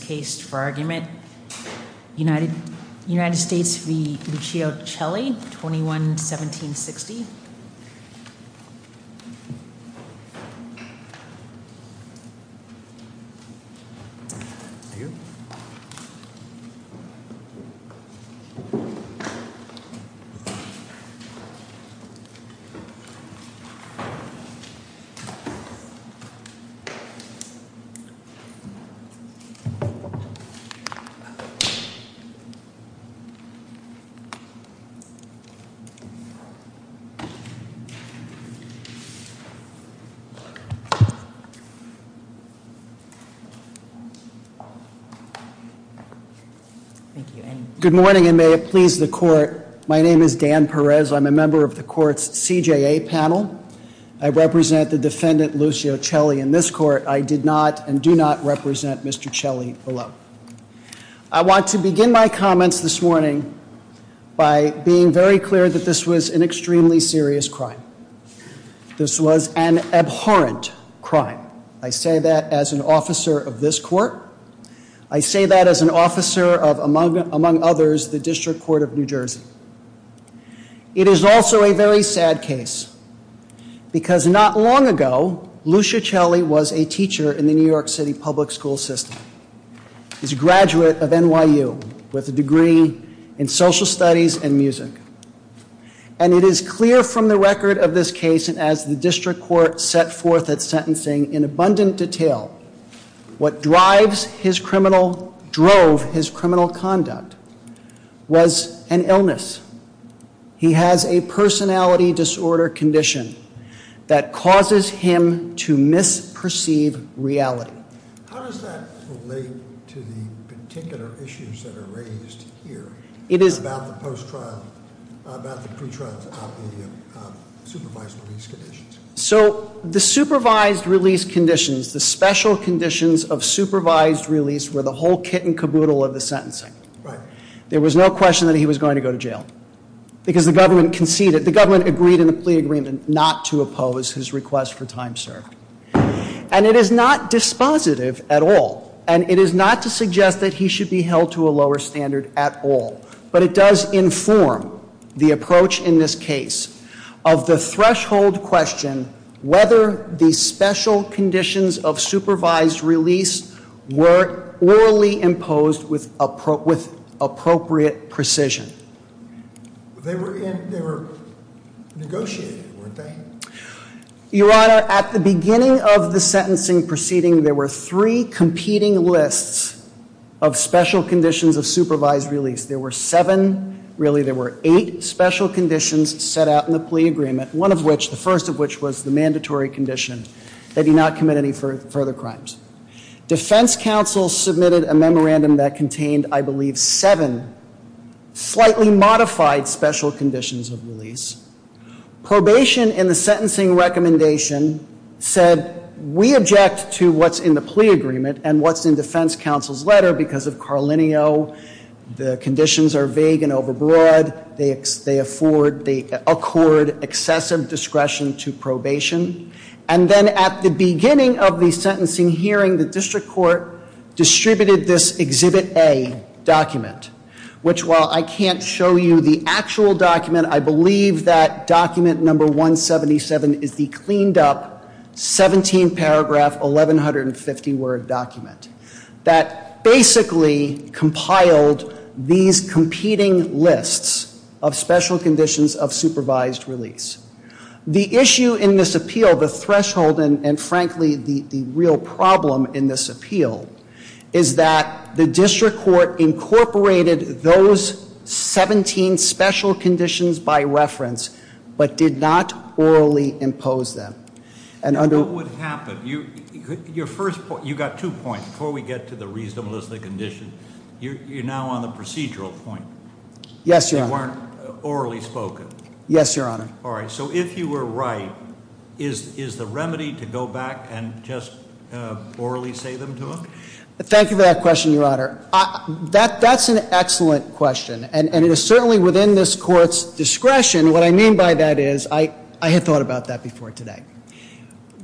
21-1760. Good morning and may it please the court. My name is Dan Perez. I'm a member of the court's CJA panel. I represent the defendant Lucio Celli in this court. I did not and do not represent Mr. Celli below. I want to begin my comments this morning by being very clear that this was an extremely serious crime. This was an abhorrent crime. I say that as an officer of this court. I say that as an officer of, among others, the District Court of New Jersey. It is also a very sad case. Because not long ago, Lucio Celli was a teacher in the New York City public school system. He's a graduate of NYU with a degree in social studies and music. And it is clear from the record of this case and as the District Court set forth its sentencing in abundant detail, what drives his criminal, drove his criminal conduct was an illness. He has a personality disorder condition that causes him to misperceive reality. How does that relate to the particular issues that are raised here about the pre-trials out in the supervised release conditions? So the supervised release conditions, the special conditions of supervised release were the whole kit and caboodle of the sentencing. There was no question that he was going to go to jail. Because the government conceded, the government agreed in the plea agreement not to oppose his request for time served. And it is not dispositive at all. And it is not to suggest that he should be held to a lower standard at all. But it does inform the approach in this case of the threshold question, whether the special conditions of supervised release were orally imposed with appropriate precision. They were negotiated, weren't they? Your Honor, at the beginning of the sentencing proceeding, there were three competing lists of special conditions of supervised release. There were seven, really there were eight special conditions set out in the plea agreement, one of which, the first of which was the mandatory condition that he not commit any further crimes. Defense counsel submitted a memorandum that contained, I believe, seven slightly modified special conditions of release. Probation in the sentencing recommendation said we object to what's in the plea agreement and what's in defense counsel's letter because of Carlinio, the conditions are vague and overbroad. They afford, they accord excessive discretion to probation. And then at the beginning of the sentencing hearing, the district court distributed this Exhibit A document, which while I can't show you the actual document, I believe that document number 177 is the cleaned up 17 paragraph 1150 word document that basically compiled these competing lists of special conditions of supervised release. The issue in this appeal, the threshold and frankly the real problem in this appeal, is that the district court incorporated those 17 special conditions by reference, but did not orally impose them. And under- What would happen? Your first point, you got two points before we get to the reasonableness of the condition. You're now on the procedural point. Yes, your honor. You weren't orally spoken. Yes, your honor. All right, so if you were right, is the remedy to go back and just orally say them to him? Thank you for that question, your honor. That's an excellent question and it is certainly within this court's discretion. What I mean by that is, I had thought about that before today.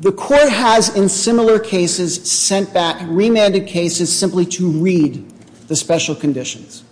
The court has in similar cases sent back remanded cases simply to read the special conditions.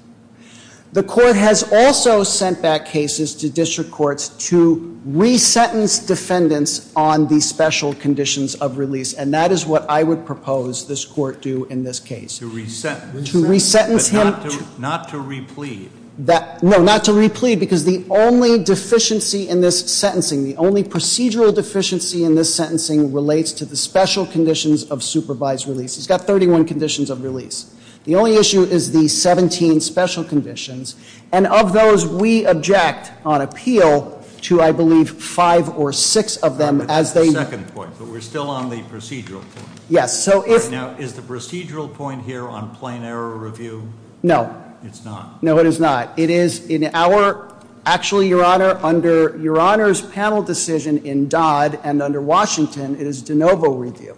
The court has also sent back cases to district courts to re-sentence defendants on the special conditions of release, and that is what I would propose this court do in this case. To re-sentence? To re-sentence him. But not to re-plead? No, not to re-plead because the only deficiency in this sentencing, the only procedural deficiency in this sentencing relates to the special conditions of supervised release. It's got 31 conditions of release. The only issue is the 17 special conditions. And of those, we object on appeal to, I believe, five or six of them as they That's the second point, but we're still on the procedural point. Yes, so if Now, is the procedural point here on plain error review? No. It's not. No, it is not. It is in our, actually, your honor, under your honor's panel decision in Dodd and under Washington, it is de novo review.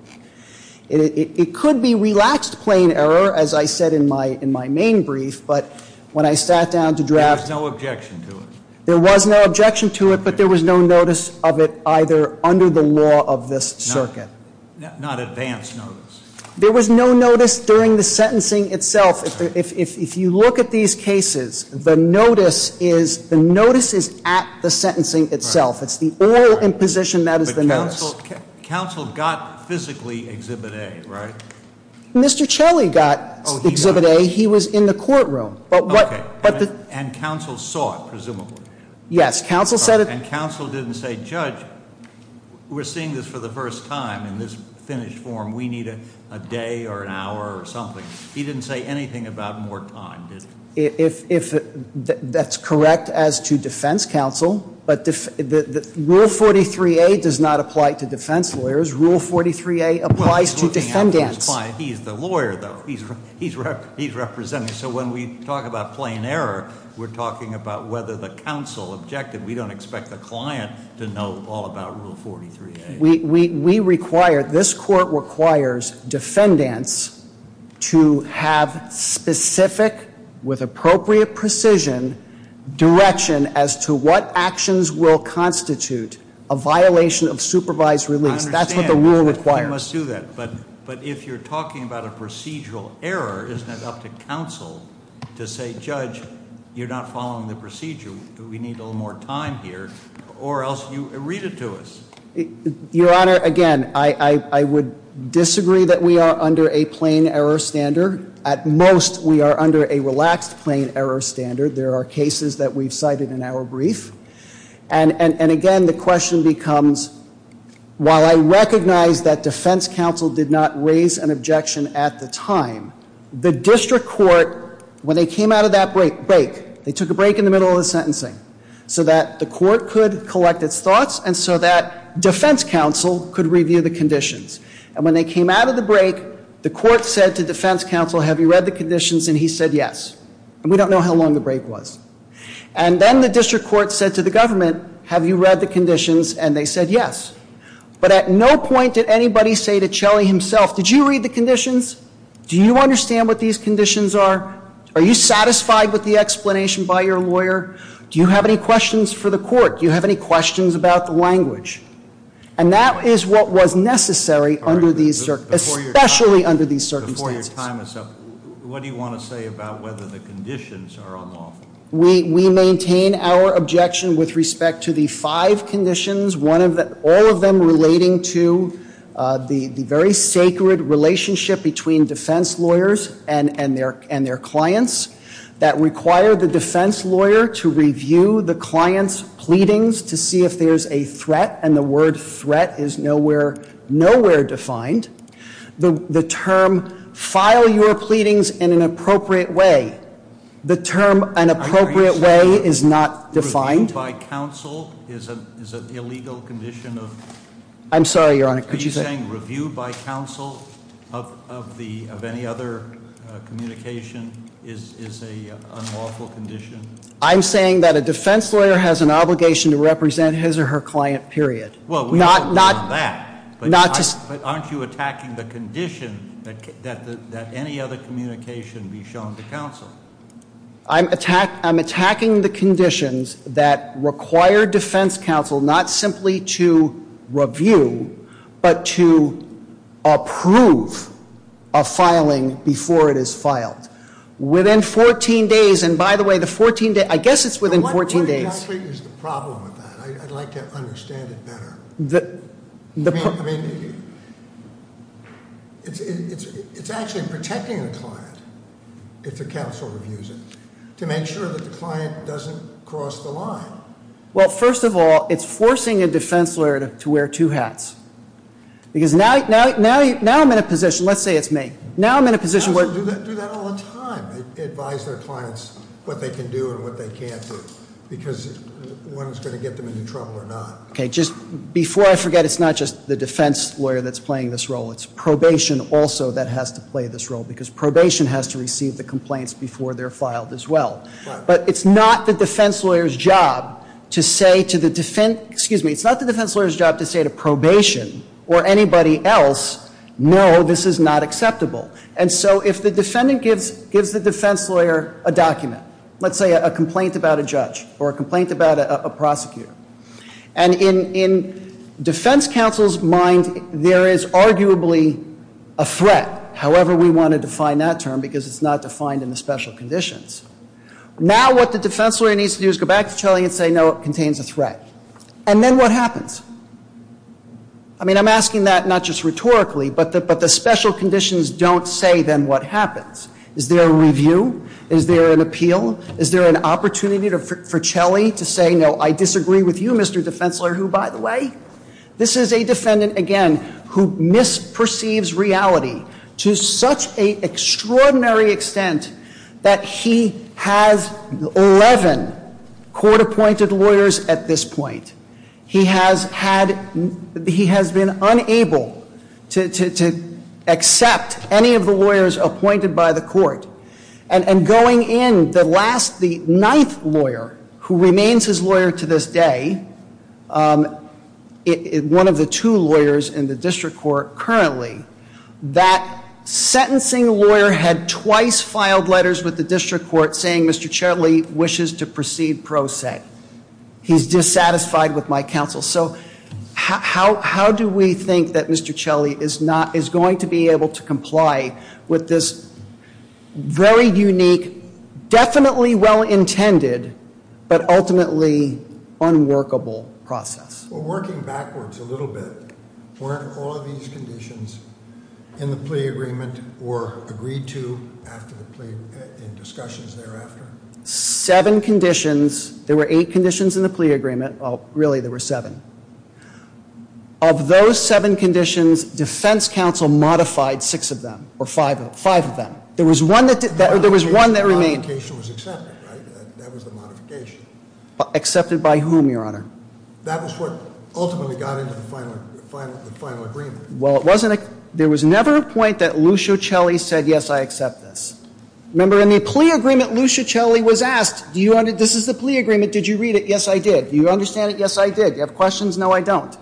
It could be relaxed plain error, as I said in my main brief, but when I sat down to draft There was no objection to it. There was no objection to it, but there was no notice of it either under the law of this circuit. Not advance notice. There was no notice during the sentencing itself. If you look at these cases, the notice is at the sentencing itself. It's the oral imposition that is the notice. Counsel got physically Exhibit A, right? Mr. Chelley got Exhibit A. He was in the courtroom. Okay, and counsel saw it, presumably. Yes, counsel said it. And counsel didn't say, judge, we're seeing this for the first time in this finished form. We need a day or an hour or something. He didn't say anything about more time, did he? That's correct as to defense counsel. Rule 43A does not apply to defense lawyers. Rule 43A applies to defendants. He's the lawyer, though. He's representing. So when we talk about plain error, we're talking about whether the counsel objected. We don't expect the client to know all about Rule 43A. We require, this court requires defendants to have specific, with appropriate precision, direction as to what actions will constitute a violation of supervised release. That's what the rule requires. I understand. You must do that. But if you're talking about a procedural error, isn't it up to counsel to say, judge, you're not following the procedure. We need a little more time here. Or else you read it to us. Your Honor, again, I would disagree that we are under a plain error standard. At most, we are under a relaxed plain error standard. There are cases that we've cited in our brief. And again, the question becomes, while I recognize that defense counsel did not raise an objection at the time, the district court, when they came out of that break, they took a break in the middle of the sentencing, so that the court could collect its thoughts and so that defense counsel could review the conditions. And when they came out of the break, the court said to defense counsel, have you read the conditions? And he said yes. And we don't know how long the break was. And then the district court said to the government, have you read the conditions? And they said yes. But at no point did anybody say to Chelly himself, did you read the conditions? Do you understand what these conditions are? Are you satisfied with the explanation by your lawyer? Do you have any questions for the court? Do you have any questions about the language? And that is what was necessary under these circumstances, especially under these circumstances. Before your time is up, what do you want to say about whether the conditions are unlawful? We maintain our objection with respect to the five conditions, all of them relating to the very sacred relationship between defense lawyers and their clients that require the defense lawyer to review the client's pleadings to see if there's a threat, and the word threat is nowhere defined. The term file your pleadings in an appropriate way, the term an appropriate way is not defined. Reviewed by counsel is an illegal condition of- I'm sorry, Your Honor. Could you say- Of any other communication is an unlawful condition? I'm saying that a defense lawyer has an obligation to represent his or her client, period. Well, we don't know that. Not to- But aren't you attacking the condition that any other communication be shown to counsel? I'm attacking the conditions that require defense counsel not simply to review, but to approve a filing before it is filed. Within 14 days, and by the way, the 14 days, I guess it's within 14 days- What exactly is the problem with that? I'd like to understand it better. It's actually protecting a client. If the counsel reviews it. To make sure that the client doesn't cross the line. Well, first of all, it's forcing a defense lawyer to wear two hats. Because now I'm in a position, let's say it's me. Now I'm in a position where- Counsel do that all the time. They advise their clients what they can do and what they can't do. Because one is going to get them into trouble or not. Okay, just before I forget, it's not just the defense lawyer that's playing this role. It's probation also that has to play this role. Because probation has to receive the complaints before they're filed as well. But it's not the defense lawyer's job to say to the defen- Excuse me, it's not the defense lawyer's job to say to probation or anybody else, no, this is not acceptable. And so if the defendant gives the defense lawyer a document, let's say a complaint about a judge or a complaint about a prosecutor. And in defense counsel's mind, there is arguably a threat, however we want to define that term because it's not defined in the special conditions. Now what the defense lawyer needs to do is go back to Chelly and say, no, it contains a threat. And then what happens? I mean, I'm asking that not just rhetorically, but the special conditions don't say then what happens. Is there a review? Is there an appeal? Is there an opportunity for Chelly to say, no, I disagree with you, Mr. Defense Lawyer, who, by the way, this is a defendant, again, who misperceives reality to such an extraordinary extent that he has 11 court-appointed lawyers at this point. He has been unable to accept any of the lawyers appointed by the court. And going in, the ninth lawyer who remains his lawyer to this day, one of the two lawyers in the district court currently, that sentencing lawyer had twice filed letters with the district court saying, Mr. Chelly wishes to proceed pro se. He's dissatisfied with my counsel. So how do we think that Mr. Chelly is going to be able to comply with this very unique, definitely well-intended, but ultimately unworkable process? Well, working backwards a little bit, weren't all of these conditions in the plea agreement or agreed to after the plea and discussions thereafter? Seven conditions. There were eight conditions in the plea agreement. Well, really, there were seven. Of those seven conditions, defense counsel modified six of them or five of them. There was one that remained. The modification was accepted, right? That was the modification. Accepted by whom, Your Honor? That was what ultimately got into the final agreement. Well, there was never a point that Lucio Chelly said, yes, I accept this. Remember, in the plea agreement, Lucio Chelly was asked, this is the plea agreement. Did you read it? Yes, I did. Do you understand it? Yes, I did. Do you have questions? No, I don't.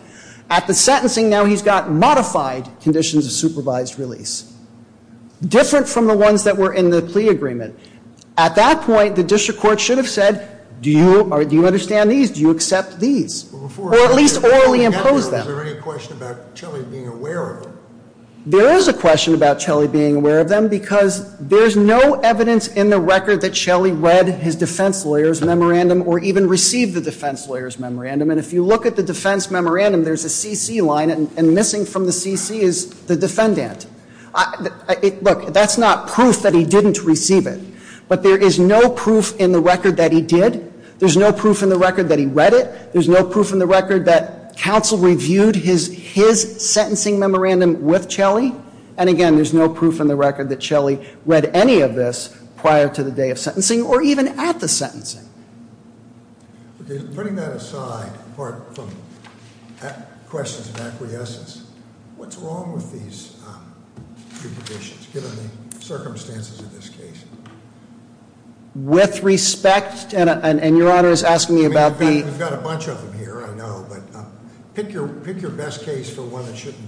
At the sentencing, now he's got modified conditions of supervised release, different from the ones that were in the plea agreement. At that point, the district court should have said, do you understand these? Do you accept these? Or at least orally impose them. Was there any question about Chelly being aware of them? There is a question about Chelly being aware of them because there's no evidence in the record that Chelly read his defense lawyer's memorandum or even received the defense lawyer's memorandum. And if you look at the defense memorandum, there's a CC line, and missing from the CC is the defendant. Look, that's not proof that he didn't receive it. But there is no proof in the record that he did. There's no proof in the record that he read it. There's no proof in the record that counsel reviewed his sentencing memorandum with Chelly. And again, there's no proof in the record that Chelly read any of this prior to the day of sentencing or even at the sentencing. Putting that aside, apart from questions of acquiescence, what's wrong with these jurisdictions, given the circumstances of this case? With respect, and Your Honor is asking me about the- We've got a bunch of them here, I know, but pick your best case for one that shouldn't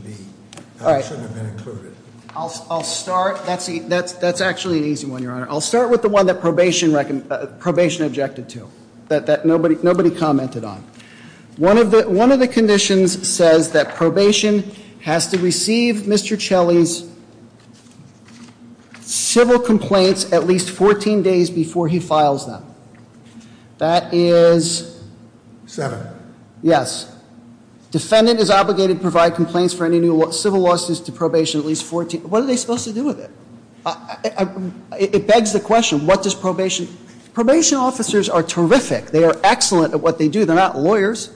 have been included. I'll start, that's actually an easy one, Your Honor. I'll start with the one that probation objected to, that nobody commented on. One of the conditions says that probation has to receive Mr. Chelly's civil complaints at least 14 days before he files them. That is- Seven. Yes. Defendant is obligated to provide complaints for any new civil lawsuits to probation at least 14. What are they supposed to do with it? It begs the question, what does probation? Probation officers are terrific. They are excellent at what they do. They're not lawyers.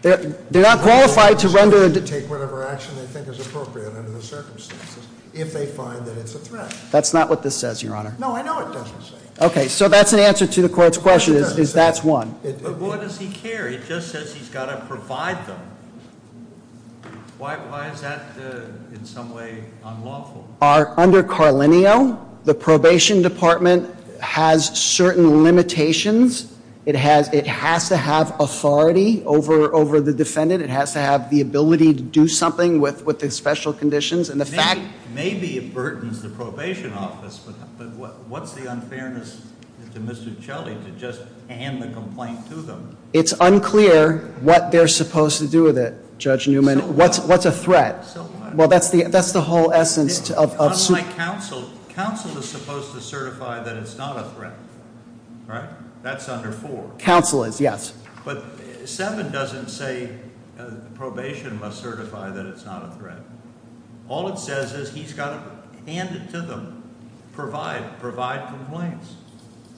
They're not qualified to render- Take whatever action they think is appropriate under the circumstances, if they find that it's a threat. That's not what this says, Your Honor. No, I know it doesn't say. Okay, so that's an answer to the court's question, is that's one. But what does he care? It just says he's got to provide them. Why is that in some way unlawful? Under Carlinio, the probation department has certain limitations. It has to have authority over the defendant. It has to have the ability to do something with the special conditions, and the fact- It's unclear what they're supposed to do with it, Judge Newman. What's a threat? Well, that's the whole essence of- Unlike counsel, counsel is supposed to certify that it's not a threat, right? That's under four. Counsel is, yes. But seven doesn't say probation must certify that it's not a threat. All it says is he's got to hand it to them, provide complaints,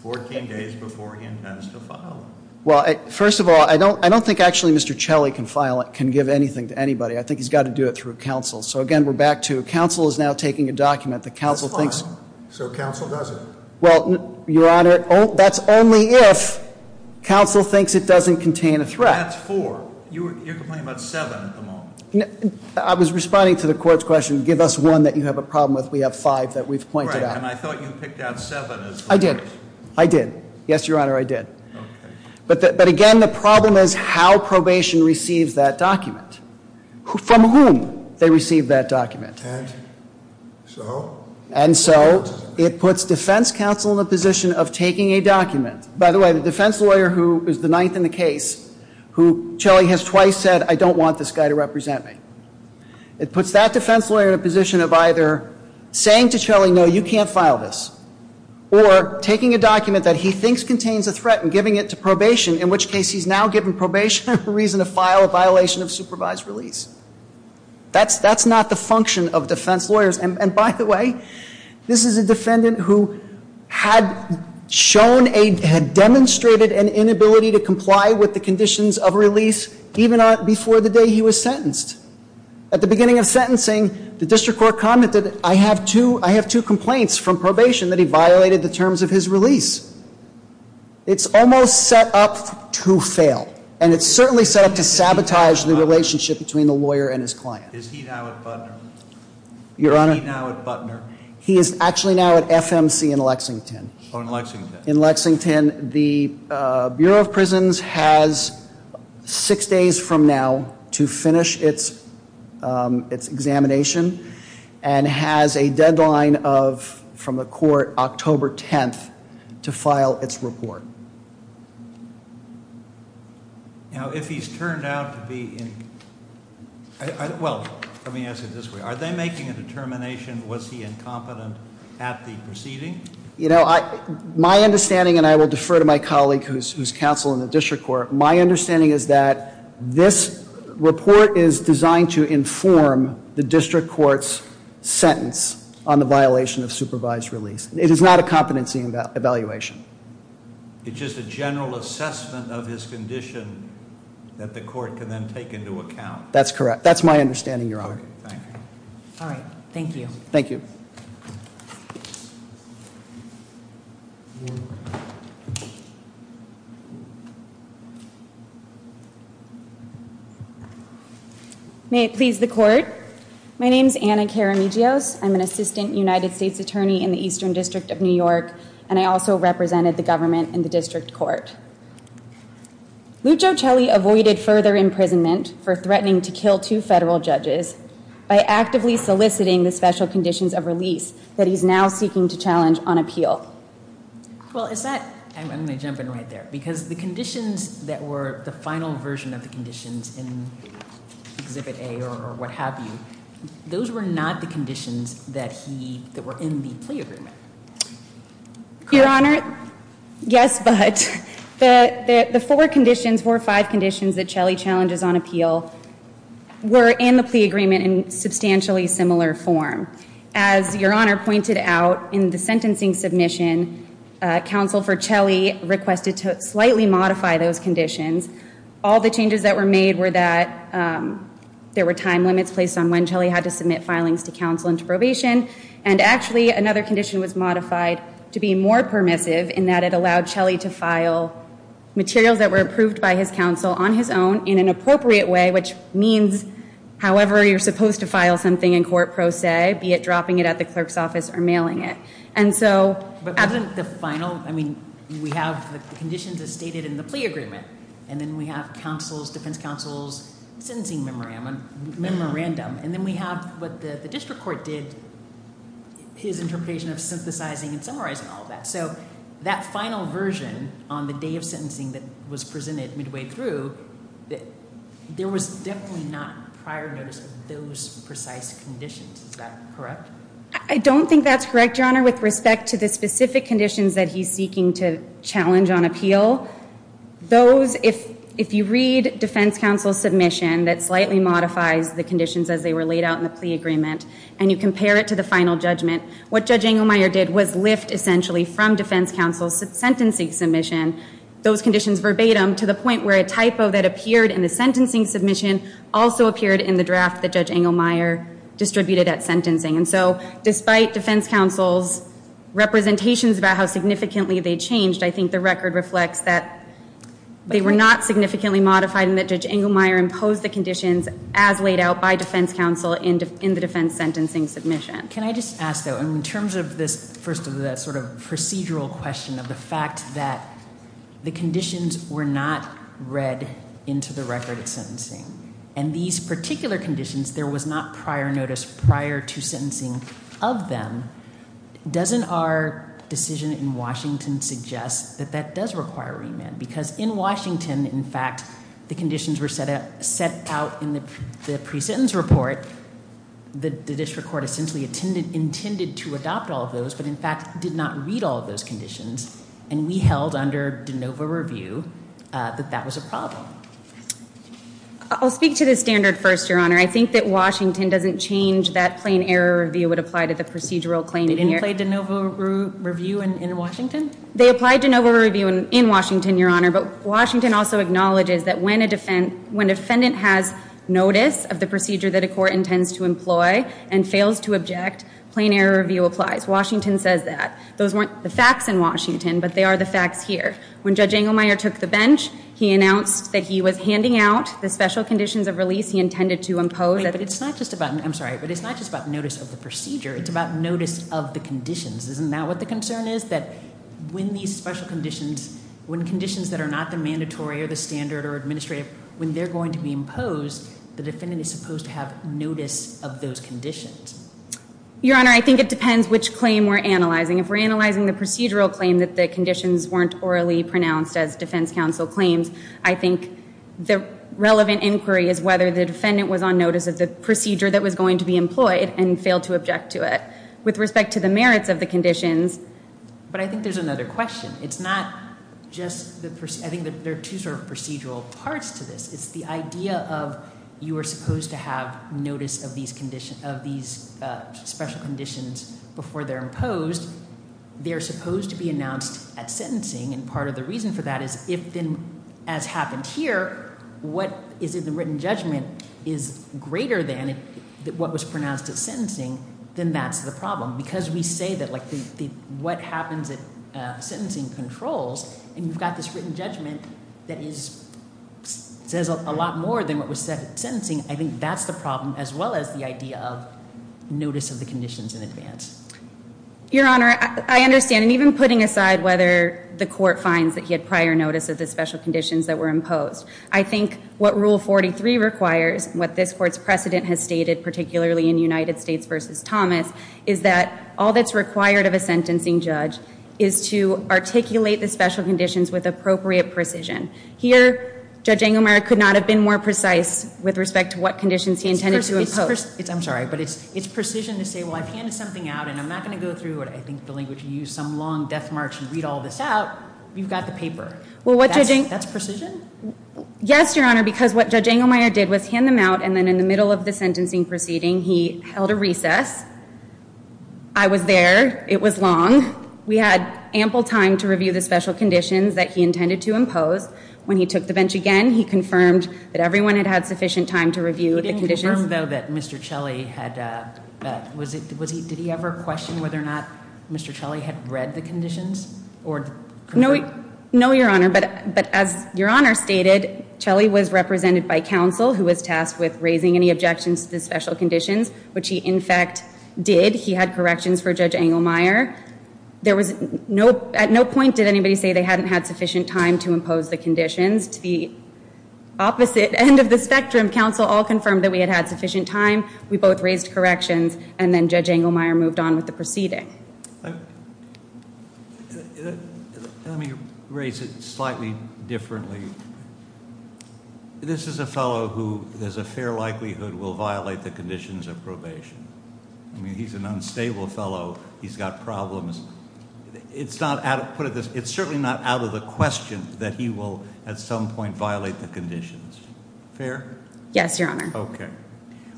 14 days before he intends to file them. Well, first of all, I don't think actually Mr. Chelley can give anything to anybody. I think he's got to do it through counsel. So, again, we're back to counsel is now taking a document that counsel thinks- That's fine. So counsel does it. Well, Your Honor, that's only if counsel thinks it doesn't contain a threat. That's four. You're complaining about seven at the moment. I was responding to the court's question. Give us one that you have a problem with. We have five that we've pointed out. Right, and I thought you picked out seven. I did. I did. Yes, Your Honor, I did. Okay. But, again, the problem is how probation receives that document. From whom they receive that document. And so? And so it puts defense counsel in the position of taking a document. By the way, the defense lawyer who is the ninth in the case, who Chelley has twice said, I don't want this guy to represent me. It puts that defense lawyer in a position of either saying to Chelley, no, you can't file this, or taking a document that he thinks contains a threat and giving it to probation, in which case he's now given probation reason to file a violation of supervised release. That's not the function of defense lawyers. And, by the way, this is a defendant who had shown, had demonstrated an inability to comply with the conditions of release even before the day he was sentenced. At the beginning of sentencing, the district court commented, I have two complaints from probation that he violated the terms of his release. It's almost set up to fail. And it's certainly set up to sabotage the relationship between the lawyer and his client. Is he now at Budner? Your Honor? Is he now at Budner? He is actually now at FMC in Lexington. Oh, in Lexington. In Lexington. The Bureau of Prisons has six days from now to finish its examination and has a deadline from the court October 10th to file its report. Now, if he's turned out to be in, well, let me ask it this way. Are they making a determination, was he incompetent at the proceeding? You know, my understanding, and I will defer to my colleague who's counsel in the district court, my understanding is that this report is designed to inform the district court's sentence on the violation of supervised release. It is not a competency evaluation. It's just a general assessment of his condition that the court can then take into account. That's correct. That's my understanding, Your Honor. Thank you. All right. Thank you. May it please the court. My name's Anna Karamigios. I'm an assistant United States attorney in the Eastern District of New York, and I also represented the government in the district court. Lucho Celli avoided further imprisonment for threatening to kill two federal judges by actively soliciting the special conditions of release that he's now seeking to challenge on appeal. Well, is that, I'm going to jump in right there, because the conditions that were the final version of the conditions in Exhibit A or what have you, those were not the conditions that were in the plea agreement. Your Honor, yes, but the four conditions, four or five conditions that Celli challenges on appeal were in the plea agreement in substantially similar form. As Your Honor pointed out, in the sentencing submission, counsel for Celli requested to slightly modify those conditions. All the changes that were made were that there were time limits placed on when Celli had to submit filings to counsel into probation, and actually another condition was modified to be more permissive in that it allowed Celli to file materials that were approved by his counsel on his own in an appropriate way, which means however you're supposed to file something in court, per se, be it dropping it at the clerk's office or mailing it. But wasn't the final, I mean, we have the conditions as stated in the plea agreement, and then we have defense counsel's sentencing memorandum, and then we have what the district court did, his interpretation of synthesizing and summarizing all that. So that final version on the day of sentencing that was presented midway through, there was definitely not prior notice of those precise conditions. Is that correct? I don't think that's correct, Your Honor. With respect to the specific conditions that he's seeking to challenge on appeal, those, if you read defense counsel's submission that slightly modifies the conditions as they were laid out in the plea agreement, and you compare it to the final judgment, what Judge Engelmeyer did was lift essentially from defense counsel's sentencing submission those conditions verbatim to the point where a typo that appeared in the sentencing submission also appeared in the draft that Judge Engelmeyer distributed at sentencing. And so despite defense counsel's representations about how significantly they changed, I think the record reflects that they were not significantly modified and that Judge Engelmeyer imposed the conditions as laid out by defense counsel in the defense sentencing submission. Can I just ask, though, in terms of this first of the sort of procedural question of the fact that the conditions were not read into the record of sentencing, and these particular conditions there was not prior notice prior to sentencing of them, doesn't our decision in Washington suggest that that does require remand? Because in Washington, in fact, the conditions were set out in the presentence report where the district court essentially intended to adopt all of those but in fact did not read all of those conditions, and we held under de novo review that that was a problem. I'll speak to the standard first, Your Honor. I think that Washington doesn't change that plain error review would apply to the procedural claim. It didn't play de novo review in Washington? They applied de novo review in Washington, Your Honor, but Washington also acknowledges that when a defendant has notice of the procedure that a court intends to employ and fails to object, plain error review applies. Washington says that. Those weren't the facts in Washington, but they are the facts here. When Judge Engelmeyer took the bench, he announced that he was handing out the special conditions of release he intended to impose. But it's not just about notice of the procedure. It's about notice of the conditions. Isn't that what the concern is, that when these special conditions, when conditions that are not the mandatory or the standard or administrative, when they're going to be imposed, the defendant is supposed to have notice of those conditions? Your Honor, I think it depends which claim we're analyzing. If we're analyzing the procedural claim, that the conditions weren't orally pronounced as defense counsel claims, I think the relevant inquiry is whether the defendant was on notice of the procedure that was going to be employed and failed to object to it. With respect to the merits of the conditions. But I think there's another question. It's not just the procedure. I think there are two sort of procedural parts to this. It's the idea of you are supposed to have notice of these special conditions before they're imposed. They're supposed to be announced at sentencing, and part of the reason for that is if then, as happened here, what is in the written judgment is greater than what was pronounced at sentencing, then that's the problem. Because we say that what happens at sentencing controls, and you've got this written judgment that says a lot more than what was said at sentencing, I think that's the problem as well as the idea of notice of the conditions in advance. Your Honor, I understand. And even putting aside whether the court finds that he had prior notice of the special conditions that were imposed, I think what Rule 43 requires, what this Court's precedent has stated, particularly in United States v. Thomas, is that all that's required of a sentencing judge is to articulate the special conditions with appropriate precision. Here, Judge Engelmeyer could not have been more precise with respect to what conditions he intended to impose. I'm sorry, but it's precision to say, well, I've handed something out, and I'm not going to go through what I think the language you used, some long death march, and read all this out. You've got the paper. That's precision? Yes, Your Honor, because what Judge Engelmeyer did was hand them out, and then in the middle of the sentencing proceeding, he held a recess. I was there. It was long. We had ample time to review the special conditions that he intended to impose. When he took the bench again, he confirmed that everyone had had sufficient time to review the conditions. He didn't confirm, though, that Mr. Chelley had – did he ever question whether or not Mr. Chelley had read the conditions? No, Your Honor, but as Your Honor stated, Chelley was represented by counsel who was tasked with raising any objections to the special conditions, which he, in fact, did. He had corrections for Judge Engelmeyer. At no point did anybody say they hadn't had sufficient time to impose the conditions. To the opposite end of the spectrum, counsel all confirmed that we had had sufficient time. We both raised corrections, and then Judge Engelmeyer moved on with the proceeding. Let me raise it slightly differently. This is a fellow who, there's a fair likelihood, will violate the conditions of probation. I mean, he's an unstable fellow. He's got problems. It's certainly not out of the question that he will, at some point, violate the conditions. Fair? Yes, Your Honor. Okay.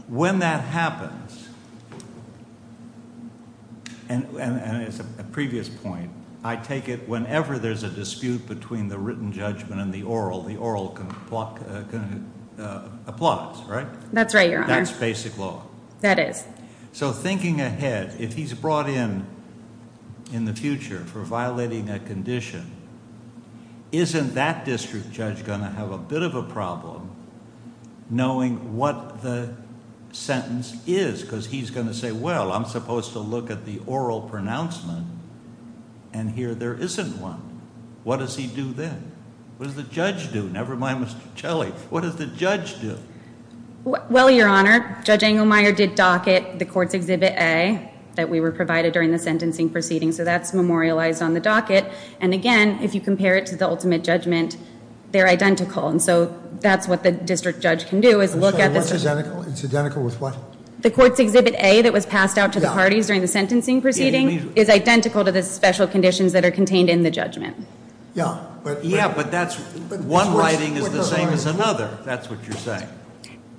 When that happens, and it's a previous point, I take it whenever there's a dispute between the written judgment and the oral, the oral applies, right? That's right, Your Honor. That's basic law. That is. So thinking ahead, if he's brought in in the future for violating a condition, isn't that district judge going to have a bit of a problem knowing what the sentence is? Because he's going to say, well, I'm supposed to look at the oral pronouncement, and here there isn't one. What does he do then? What does the judge do? Never mind Mr. Chelly. What does the judge do? Well, Your Honor, Judge Engelmeyer did docket the court's Exhibit A that we were provided during the sentencing proceeding. So that's memorialized on the docket. And again, if you compare it to the ultimate judgment, they're identical. And so that's what the district judge can do, is look at the- What's identical? It's identical with what? The court's Exhibit A that was passed out to the parties during the sentencing proceeding is identical to the special conditions that are contained in the judgment. Yeah, but- Yeah, but that's- One writing is the same as another. That's what you're saying.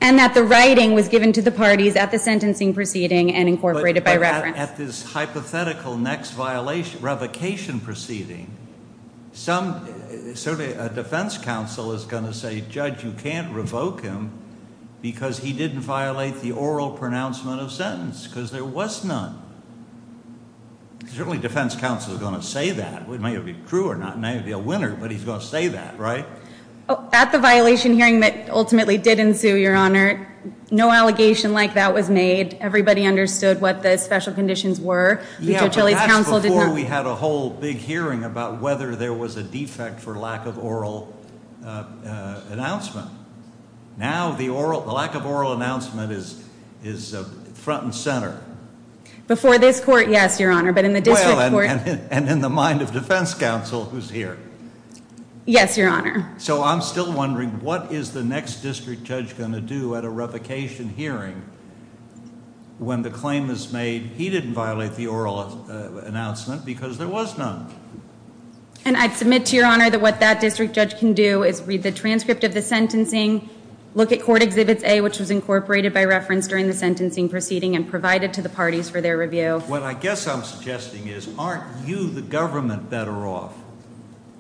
And that the writing was given to the parties at the sentencing proceeding and incorporated by reference. At this hypothetical next revocation proceeding, certainly a defense counsel is going to say, Judge, you can't revoke him because he didn't violate the oral pronouncement of sentence because there was none. Certainly defense counsel is going to say that. It may be true or not. It may be a winner, but he's going to say that, right? At the violation hearing that ultimately did ensue, Your Honor, no allegation like that was made. Everybody understood what the special conditions were. Yeah, but that's before we had a whole big hearing about whether there was a defect for lack of oral announcement. Now the lack of oral announcement is front and center. Before this court, yes, Your Honor, but in the district court- Well, and in the mind of defense counsel who's here. Yes, Your Honor. So I'm still wondering what is the next district judge going to do at a revocation hearing when the claim is made, he didn't violate the oral announcement because there was none. And I'd submit to Your Honor that what that district judge can do is read the transcript of the sentencing, look at court exhibits A, which was incorporated by reference during the sentencing proceeding, and provide it to the parties for their review. What I guess I'm suggesting is aren't you, the government, better off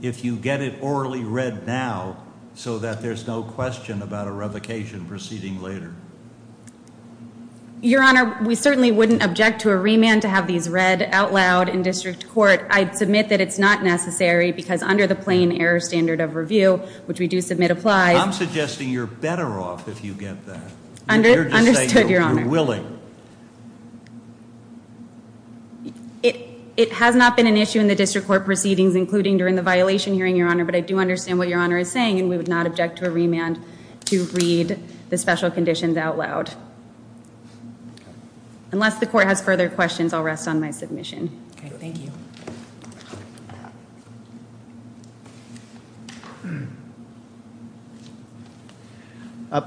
if you get it orally read now so that there's no question about a revocation proceeding later? Your Honor, we certainly wouldn't object to a remand to have these read out loud in district court. I'd submit that it's not necessary because under the plain error standard of review, which we do submit applies- I'm suggesting you're better off if you get that. Understood, Your Honor. I'm saying you're willing. It has not been an issue in the district court proceedings, including during the violation hearing, Your Honor, but I do understand what Your Honor is saying, and we would not object to a remand to read the special conditions out loud. Unless the court has further questions, I'll rest on my submission. Okay, thank you.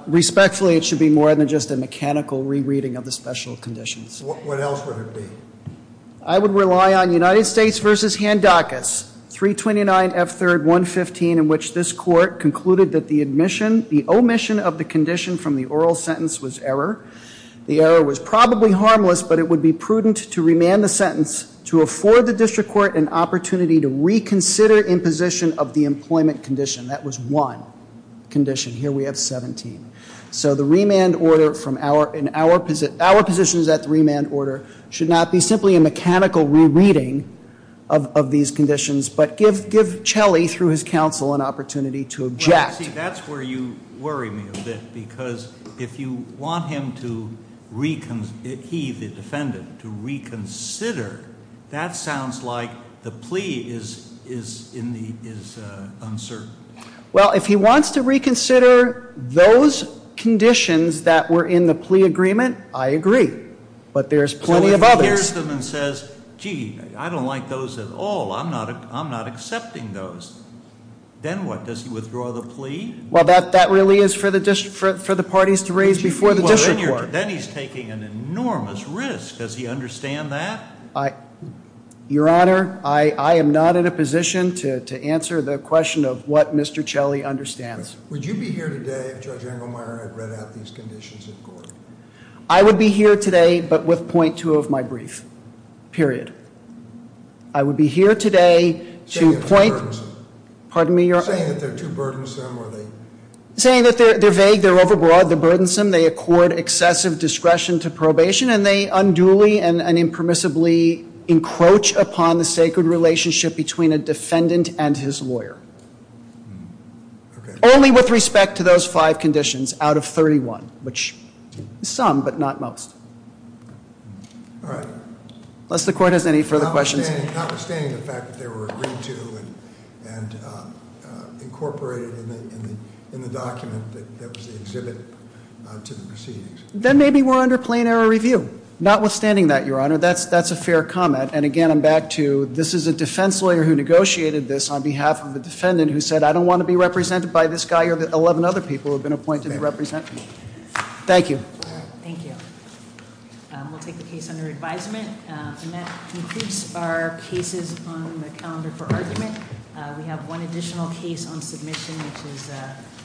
Respectfully, it should be more than just a mechanical rereading of the special conditions. What else would it be? I would rely on United States v. Handakis, 329 F. 3rd. 115, in which this court concluded that the omission of the condition from the oral sentence was error. The error was probably harmless, but it would be prudent to remand the sentence to afford the district court an opportunity to reconsider in position of the employment condition. That was one condition. Here we have 17. So the remand order in our position is that the remand order should not be simply a mechanical rereading of these conditions, but give Chelley, through his counsel, an opportunity to object. See, that's where you worry me a bit, because if you want him to reconsider, he, the defendant, to reconsider, that sounds like the plea is uncertain. Well, if he wants to reconsider those conditions that were in the plea agreement, I agree. But there's plenty of others. So if he hears them and says, gee, I don't like those at all, I'm not accepting those, then what, does he withdraw the plea? Well, that really is for the parties to raise before the district court. Then he's taking an enormous risk. Does he understand that? Your Honor, I am not in a position to answer the question of what Mr. Chelley understands. Would you be here today if Judge Engelmeyer had read out these conditions in court? I would be here today, but with .2 of my brief, period. I would be here today to point... Saying they're too burdensome. Pardon me, Your Honor? Saying that they're too burdensome, or they... Saying that they're vague, they're overbroad, they're burdensome, they accord excessive discretion to probation, and they unduly and impermissibly encroach upon the sacred relationship between a defendant and his lawyer. Only with respect to those five conditions out of 31, which is some, but not most. All right. Unless the court has any further questions. Notwithstanding the fact that they were agreed to and incorporated in the document that was the exhibit to the proceedings. Then maybe we're under plain error review. Notwithstanding that, Your Honor, that's a fair comment. And again, I'm back to this is a defense lawyer who negotiated this on behalf of a defendant who said, I don't want to be represented by this guy or the 11 other people who have been appointed to represent me. Thank you. Thank you. We'll take the case under advisement. And that concludes our cases on the calendar for argument. We have one additional case on submission, which is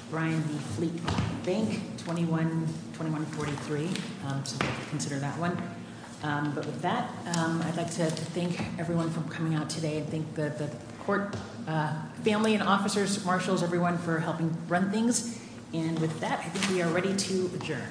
Brian B. Fleet Bank, 2143. Consider that one. But with that, I'd like to thank everyone for coming out today. Thank the court family and officers, marshals, everyone for helping run things. And with that, we are ready to adjourn.